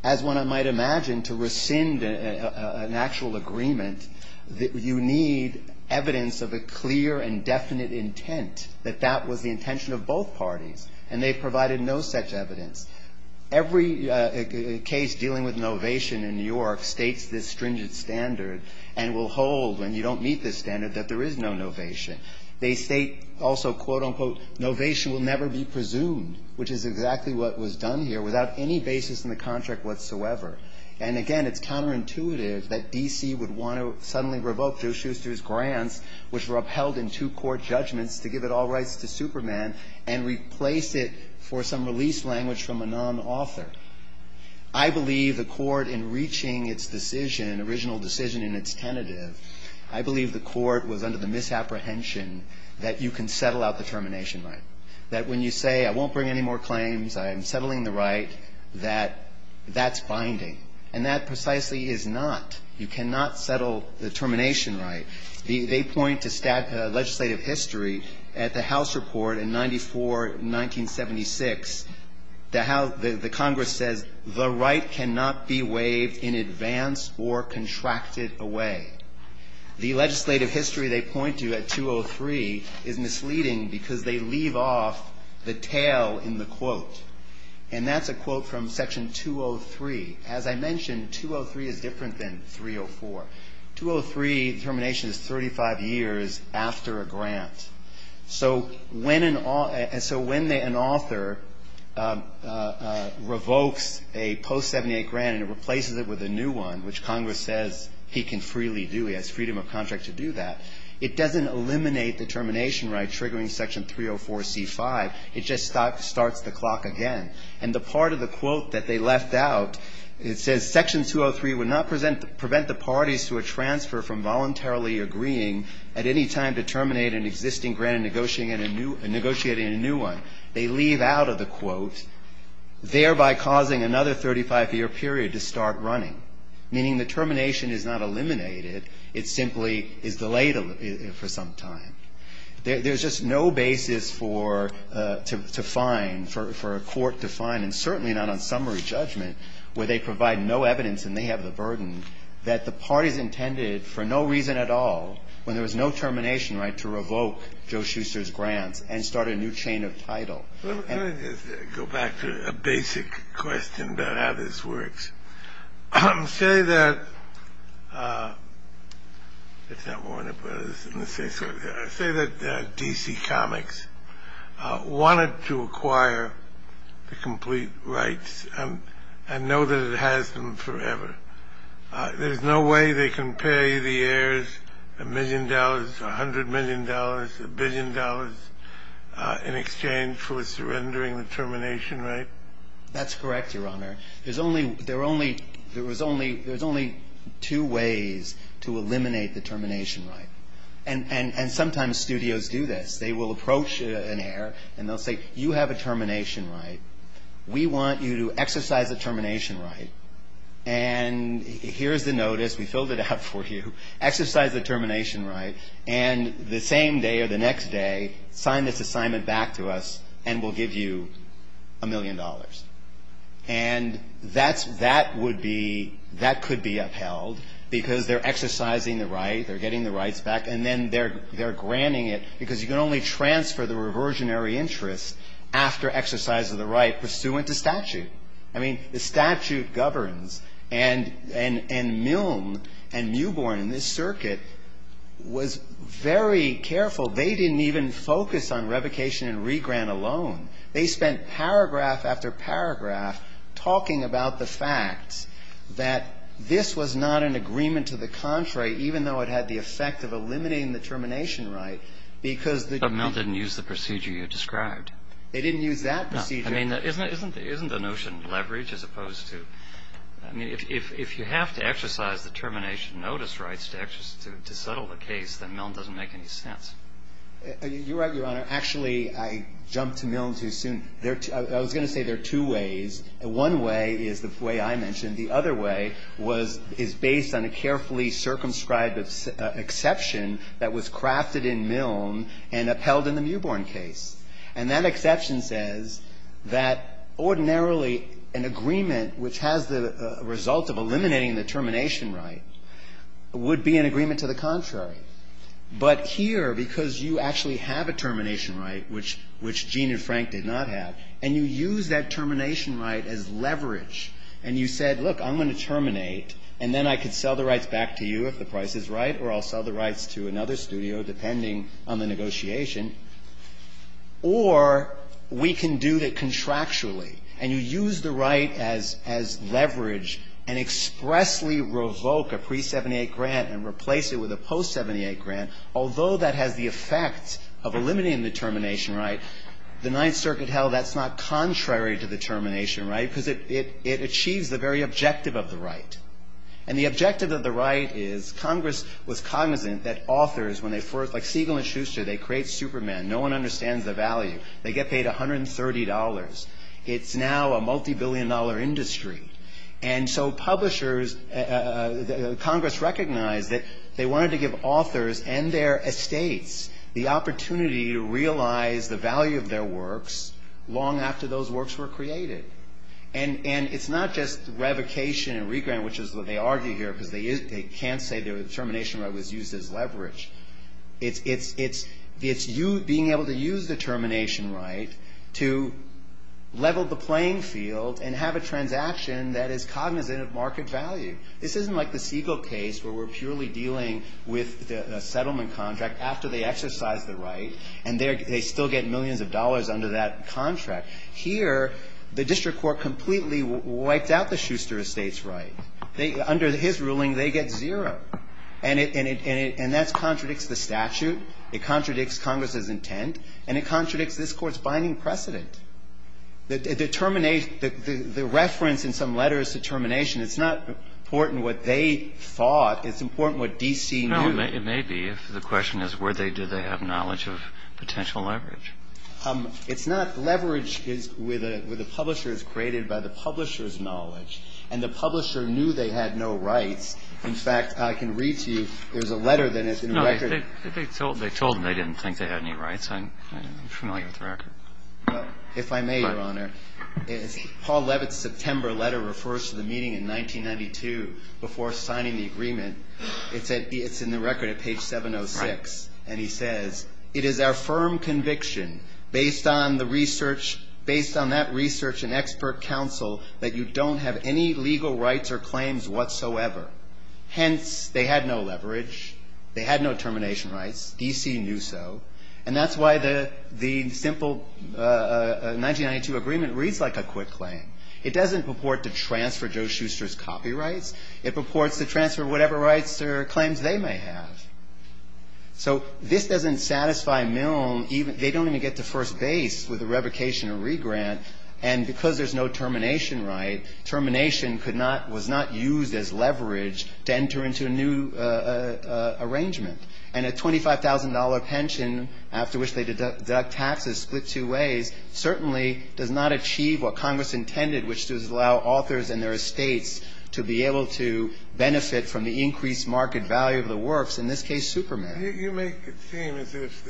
As one might imagine, to rescind an actual agreement, you need evidence of a clear and definite intent that that was the intention of both parties. And they provided no such evidence. Every case dealing with novation in New York states this stringent standard and will hold, when you don't meet this standard, that there is no novation. They state also, quote, unquote, novation will never be presumed, which is exactly what was done here, without any basis in the contract whatsoever. And again, it's counterintuitive that D.C. would want to suddenly revoke Joe Shuster's grants, which were upheld in two court judgments, to give it all rights to Superman and replace it for some release language from a non-author. I believe the Court, in reaching its decision, original decision in its tentative, I believe the Court was under the misapprehension that you can settle out the termination right. That when you say, I won't bring any more claims, I am settling the right, that that's binding. And that precisely is not. You cannot settle the termination right. They point to legislative history at the House report in 94, 1976. The Congress says the right cannot be waived in advance or contracted away. The legislative history they point to at 203 is misleading because they leave off the tail in the quote. And that's a quote from Section 203. As I mentioned, 203 is different than 304. 203, termination is 35 years after a grant. So when an author revokes a post-'78 grant and replaces it with a new one, which to do that, it doesn't eliminate the termination right triggering Section 304C5. It just starts the clock again. And the part of the quote that they left out, it says, Section 203 would not prevent the parties to a transfer from voluntarily agreeing at any time to terminate an existing grant and negotiating a new one. They leave out of the quote, thereby causing another 35-year period to start running, meaning the termination is not eliminated. It simply is delayed for some time. There's just no basis for a court to find, and certainly not on summary judgment, where they provide no evidence and they have the burden that the parties intended for no reason at all, when there was no termination right, to revoke Joe Shuster's grants and start a new chain of title. Well, let me just go back to a basic question about how this works. Say that DC Comics wanted to acquire the complete rights and know that it has them forever. There's no way they can pay the heirs a million dollars, a hundred million dollars, a billion dollars in exchange for surrendering the termination right? That's correct, Your Honor. There's only two ways to eliminate the termination right. And sometimes studios do this. They will approach an heir and they'll say, you have a termination right. We want you to exercise the termination right. And here's the notice. We filled it out for you. Exercise the termination right and the same day or the next day, sign this assignment back to us and we'll give you a million dollars. And that would be, that could be upheld because they're exercising the right, they're getting the rights back, and then they're granting it because you can only transfer the reversionary interest after exercise of the right pursuant to statute. I mean, the statute governs. And Milne and Newborn in this circuit was very careful. They didn't even focus on revocation and regrant alone. They spent paragraph after paragraph talking about the fact that this was not an agreement to the contrary, even though it had the effect of eliminating the termination right, because the DC. But Milne didn't use the procedure you described. They didn't use that procedure. I mean, isn't the notion leverage as opposed to, I mean, if you have to exercise the termination notice rights to settle the case, then Milne doesn't make any sense. You're right, Your Honor. Actually, I jumped to Milne too soon. I was going to say there are two ways. One way is the way I mentioned. The other way was, is based on a carefully circumscribed exception that was crafted in Milne and upheld in the Newborn case. And that exception says that ordinarily an agreement which has the result of eliminating the termination right would be an agreement to the contrary. But here, because you actually have a termination right, which Gene and Frank did not have, and you use that termination right as leverage, and you said, look, I'm going to terminate, and then I could sell the rights back to you if the price is right, or I'll sell the rights to another studio depending on the negotiation. Or we can do that contractually, and you use the right as leverage and expressly revoke a pre-'78 grant and replace it with a post-'78 grant, although that has the effect of eliminating the termination right. The Ninth Circuit held that's not contrary to the termination right because it achieves the very objective of the right. And the objective of the right is Congress was cognizant that authors, when they first like Siegel and Schuster, they create Superman. No one understands the value. They get paid $130. It's now a multibillion-dollar industry. And so publishers, Congress recognized that they wanted to give authors and their estates the opportunity to realize the value of their works long after those works were created. And it's not just revocation and re-grant, which is what they argue here because they can't say the termination right was used as leverage. It's being able to use the termination right to level the playing field and have a transaction that is cognizant of market value. This isn't like the Siegel case where we're purely dealing with a settlement contract after they exercise the right, and they still get millions of dollars under that contract. Here, the district court completely wiped out the Schuster estate's right. Under his ruling, they get zero. And that contradicts the statute. It contradicts Congress's intent. And it contradicts this Court's binding precedent. The reference in some letters to termination, it's not important what they thought. It's important what D.C. knew. It may be. If the question is where do they have knowledge of potential leverage. It's not leverage with a publisher. It's created by the publisher's knowledge. And the publisher knew they had no rights. In fact, I can read to you, there's a letter that is in the record. They told them they didn't think they had any rights. I'm familiar with the record. If I may, Your Honor, Paul Levitt's September letter refers to the meeting in 1992 before signing the agreement. It's in the record at page 706. And he says, it is our firm conviction based on the research, based on that research and expert counsel that you don't have any legal rights or claims whatsoever. Hence, they had no leverage. They had no termination rights. D.C. knew so. And that's why the simple 1992 agreement reads like a quick claim. It doesn't purport to transfer Joe Schuster's copyrights. It purports to transfer whatever rights or claims they may have. So this doesn't satisfy Milne. They don't even get to first base with a revocation or regrant. And because there's no termination right, termination was not used as leverage to enter into a new arrangement. And a $25,000 pension, after which they deduct taxes split two ways, certainly does not achieve what Congress intended, which is to allow authors and their estates to be able to benefit from the increased market value of the works. In this case, Superman. You make it seem as if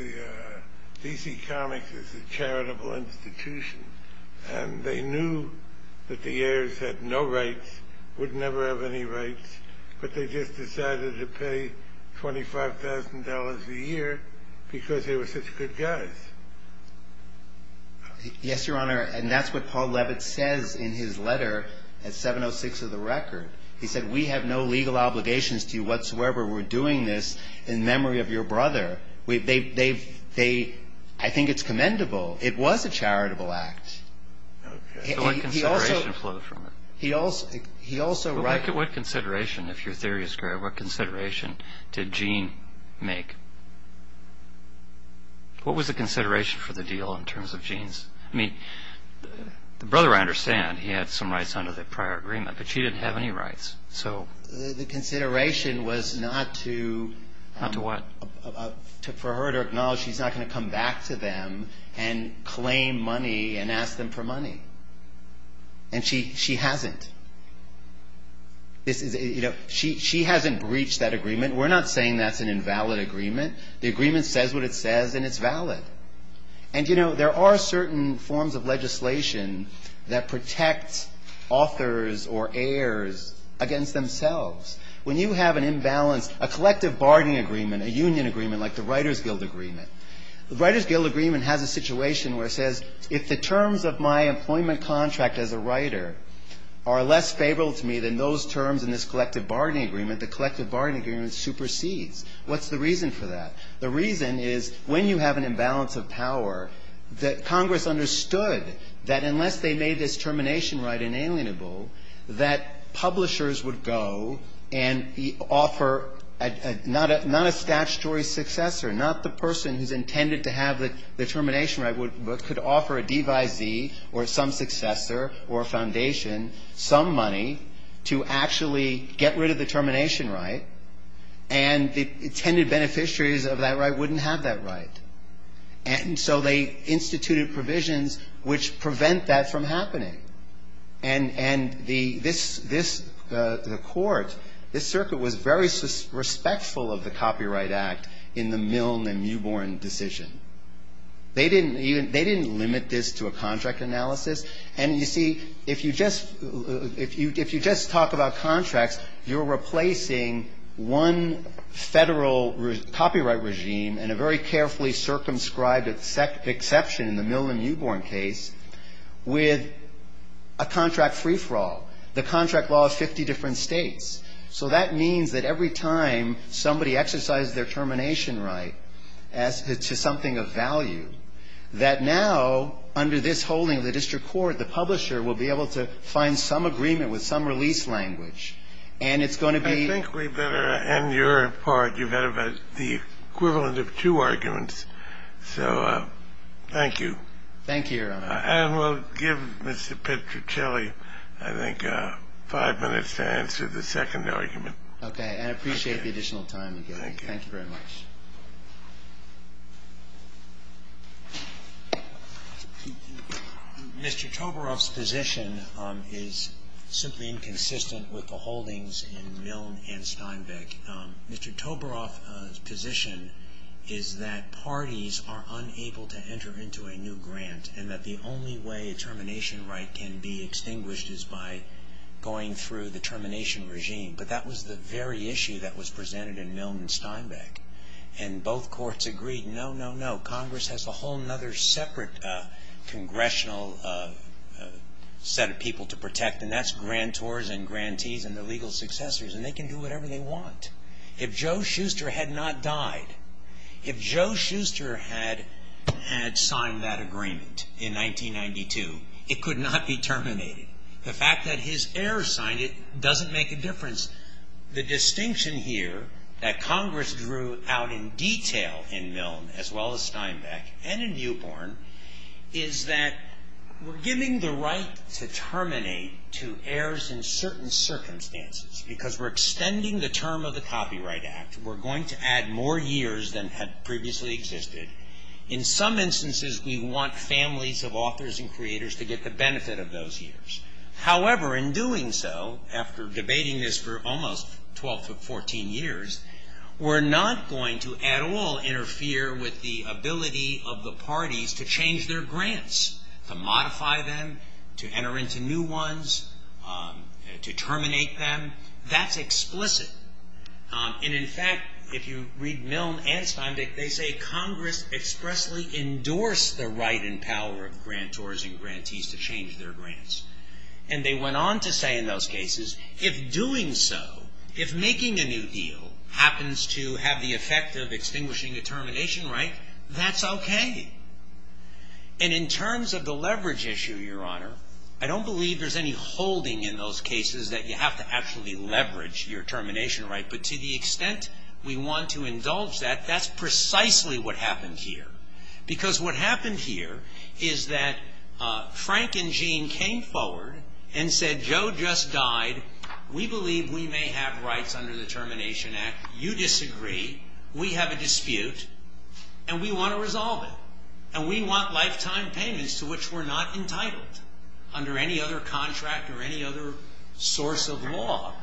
D.C. Comics is a charitable institution and they knew that the heirs had no rights, would never have any rights, but they just decided to pay $25,000 a year because they were such good guys. Yes, Your Honor, and that's what Paul Levitt says in his letter at 706 of the Record. He said, we have no legal obligations to you whatsoever. We're doing this in memory of your brother. I think it's commendable. It was a charitable act. Okay. So what consideration flowed from it? What consideration, if your theory is correct, what consideration did Gene make? What was the consideration for the deal in terms of Gene's? I mean, the brother I understand, he had some rights under the prior agreement, but she didn't have any rights. So the consideration was not to what? For her to acknowledge she's not going to come back to them and claim money and ask them for money. And she hasn't. She hasn't breached that agreement. We're not saying that's an invalid agreement. The agreement says what it says and it's valid. And, you know, there are certain forms of legislation that protect authors or heirs against themselves. When you have an imbalance, a collective bargaining agreement, a union agreement like the Writers Guild Agreement, the Writers Guild Agreement has a situation where it says, if the terms of my employment contract as a writer are less favorable to me than those terms in this collective bargaining agreement, the collective bargaining agreement supersedes. What's the reason for that? The reason is when you have an imbalance of power, that Congress understood that unless they made this termination right inalienable, that publishers would go and offer not a statutory successor, not the person who's intended to have the termination right, but could offer a devisee or some successor or a foundation some money to actually get rid of the termination right. And the intended beneficiaries of that right wouldn't have that right. And so they instituted provisions which prevent that from happening. And this court, this circuit was very respectful of the Copyright Act in the Milne and Mewbourne decision. They didn't limit this to a contract analysis. And, you see, if you just talk about contracts, you're replacing one federal copyright regime and a very carefully circumscribed exception in the Milne and Mewbourne case with a contract free-for-all. The contract law is 50 different states. So that means that every time somebody exercises their termination right to something of value, that now under this holding of the district court, the publisher will be able to find some agreement with some release language and it's going to be... I think we better end your part. You've had the equivalent of two arguments. So thank you. Thank you, Your Honor. And we'll give Mr. Petruccelli, I think, five minutes to answer the second argument. Okay. And I appreciate the additional time you gave me. Thank you. Thank you very much. Mr. Tobaroff's position is simply inconsistent with the holdings in Milne and Steinbeck. Mr. Tobaroff's position is that parties are unable to enter into a new grant and that the only way a termination right can be extinguished is by going through the termination regime. But that was the very issue that was presented in Milne and Steinbeck. And both courts agreed, no, no, no, Congress has a whole other separate congressional set of people to protect, and that's grantors and grantees and their legal successors, and they can do whatever they want. If Joe Shuster had not died, if Joe Shuster had signed that agreement in 1992, it could not be terminated. The fact that his heir signed it doesn't make a difference. The distinction here that Congress drew out in detail in Milne, as well as Steinbeck and in Newborn, is that we're giving the right to terminate to heirs in certain circumstances because we're extending the term of the Copyright Act. We're going to add more years than had previously existed. In some instances, we want families of authors and creators to get the benefit of those years. However, in doing so, after debating this for almost 12 to 14 years, we're not going to at all interfere with the ability of the parties to change their grants, to modify them, to enter into new ones, to terminate them. That's explicit. And, in fact, if you read Milne and Steinbeck, they say Congress expressly endorsed the right and power of grantors and grantees to change their grants. And they went on to say in those cases, if doing so, if making a new deal happens to have the effect of extinguishing a termination right, that's okay. And in terms of the leverage issue, Your Honor, I don't believe there's any holding in those cases that you have to actually leverage your termination right, but to the extent we want to indulge that, that's precisely what happened here. Because what happened here is that Frank and Gene came forward and said, Joe just died. We believe we may have rights under the Termination Act. You disagree. We have a dispute. And we want to resolve it. And we want lifetime payments to which we're not entitled under any other contract or any other source of law.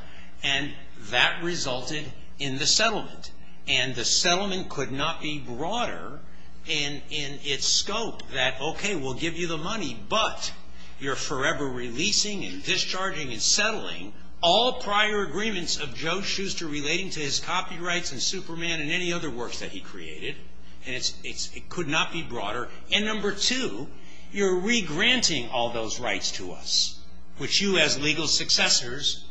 And that resulted in the settlement. And the settlement could not be broader in its scope that, okay, we'll give you the money, but you're forever releasing and discharging and settling all prior agreements of Joe Shuster relating to his copyrights and Superman and any other works that he created. And it could not be broader. And number two, you're re-granting all those rights to us, which you as legal successors,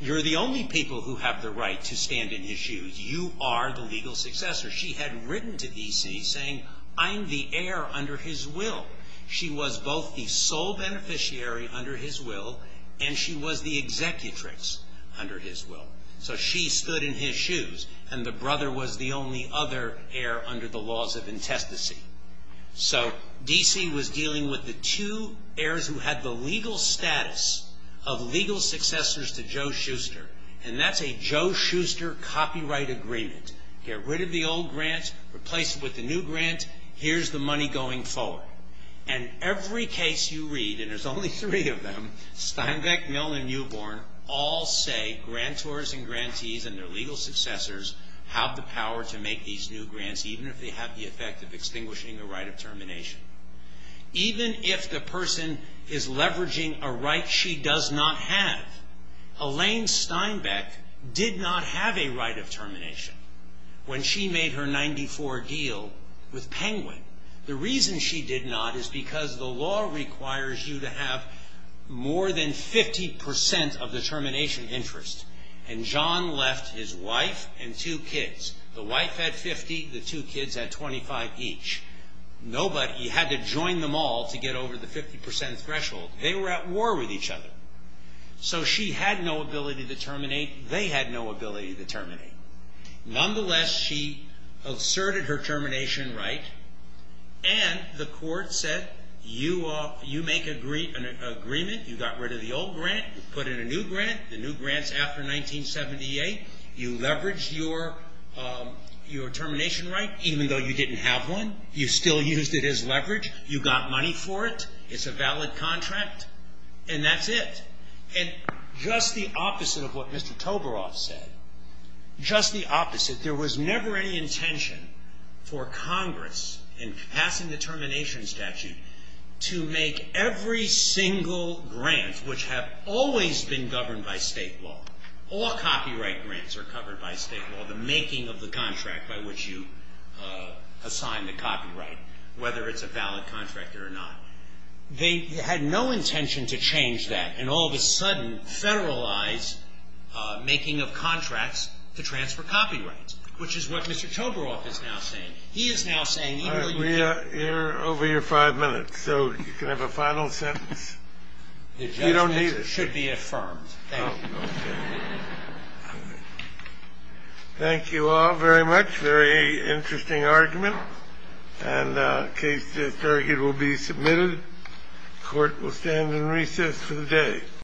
you're the only people who have the right to stand in his shoes. You are the legal successor. She had written to D.C. saying, I'm the heir under his will. She was both the sole beneficiary under his will, and she was the executrix under his will. So she stood in his shoes. And the brother was the only other heir under the laws of intestacy. So D.C. was dealing with the two heirs who had the legal status of legal successors to Joe Shuster. And that's a Joe Shuster copyright agreement. Get rid of the old grant. Replace it with the new grant. Here's the money going forward. And every case you read, and there's only three of them, Steinbeck, Milne, and Newborn, all say grantors and grantees and their legal successors have the power to make these new grants even if they have the effect of extinguishing the right of termination. Even if the person is leveraging a right she does not have, Elaine Steinbeck did not have a right of termination when she made her 94 deal with Penguin. The reason she did not is because the law requires you to have more than 50% of the termination interest. And John left his wife and two kids. The wife had 50. The two kids had 25 each. You had to join them all to get over the 50% threshold. They were at war with each other. So she had no ability to terminate. They had no ability to terminate. Nonetheless, she asserted her termination right. And the court said you make an agreement. You got rid of the old grant. You put in a new grant. The new grant's after 1978. You leveraged your termination right even though you didn't have one. You still used it as leverage. You got money for it. It's a valid contract. And that's it. And just the opposite of what Mr. Toberoff said, just the opposite, there was never any intention for Congress in passing the termination statute to make every single grant, which have always been governed by state law, all copyright grants are covered by state law, the making of the contract by which you assign the copyright, whether it's a valid contract or not. They had no intention to change that. And all of a sudden, federalized making of contracts to transfer copyrights, which is what Mr. Toberoff is now saying. He is now saying even though you don't need it. I agree. You're over your five minutes, so you can have a final sentence. You don't need it. It should be affirmed. Thank you. Okay. Thank you all very much. Very interesting argument. And case disargued will be submitted. Court will stand in recess for the day.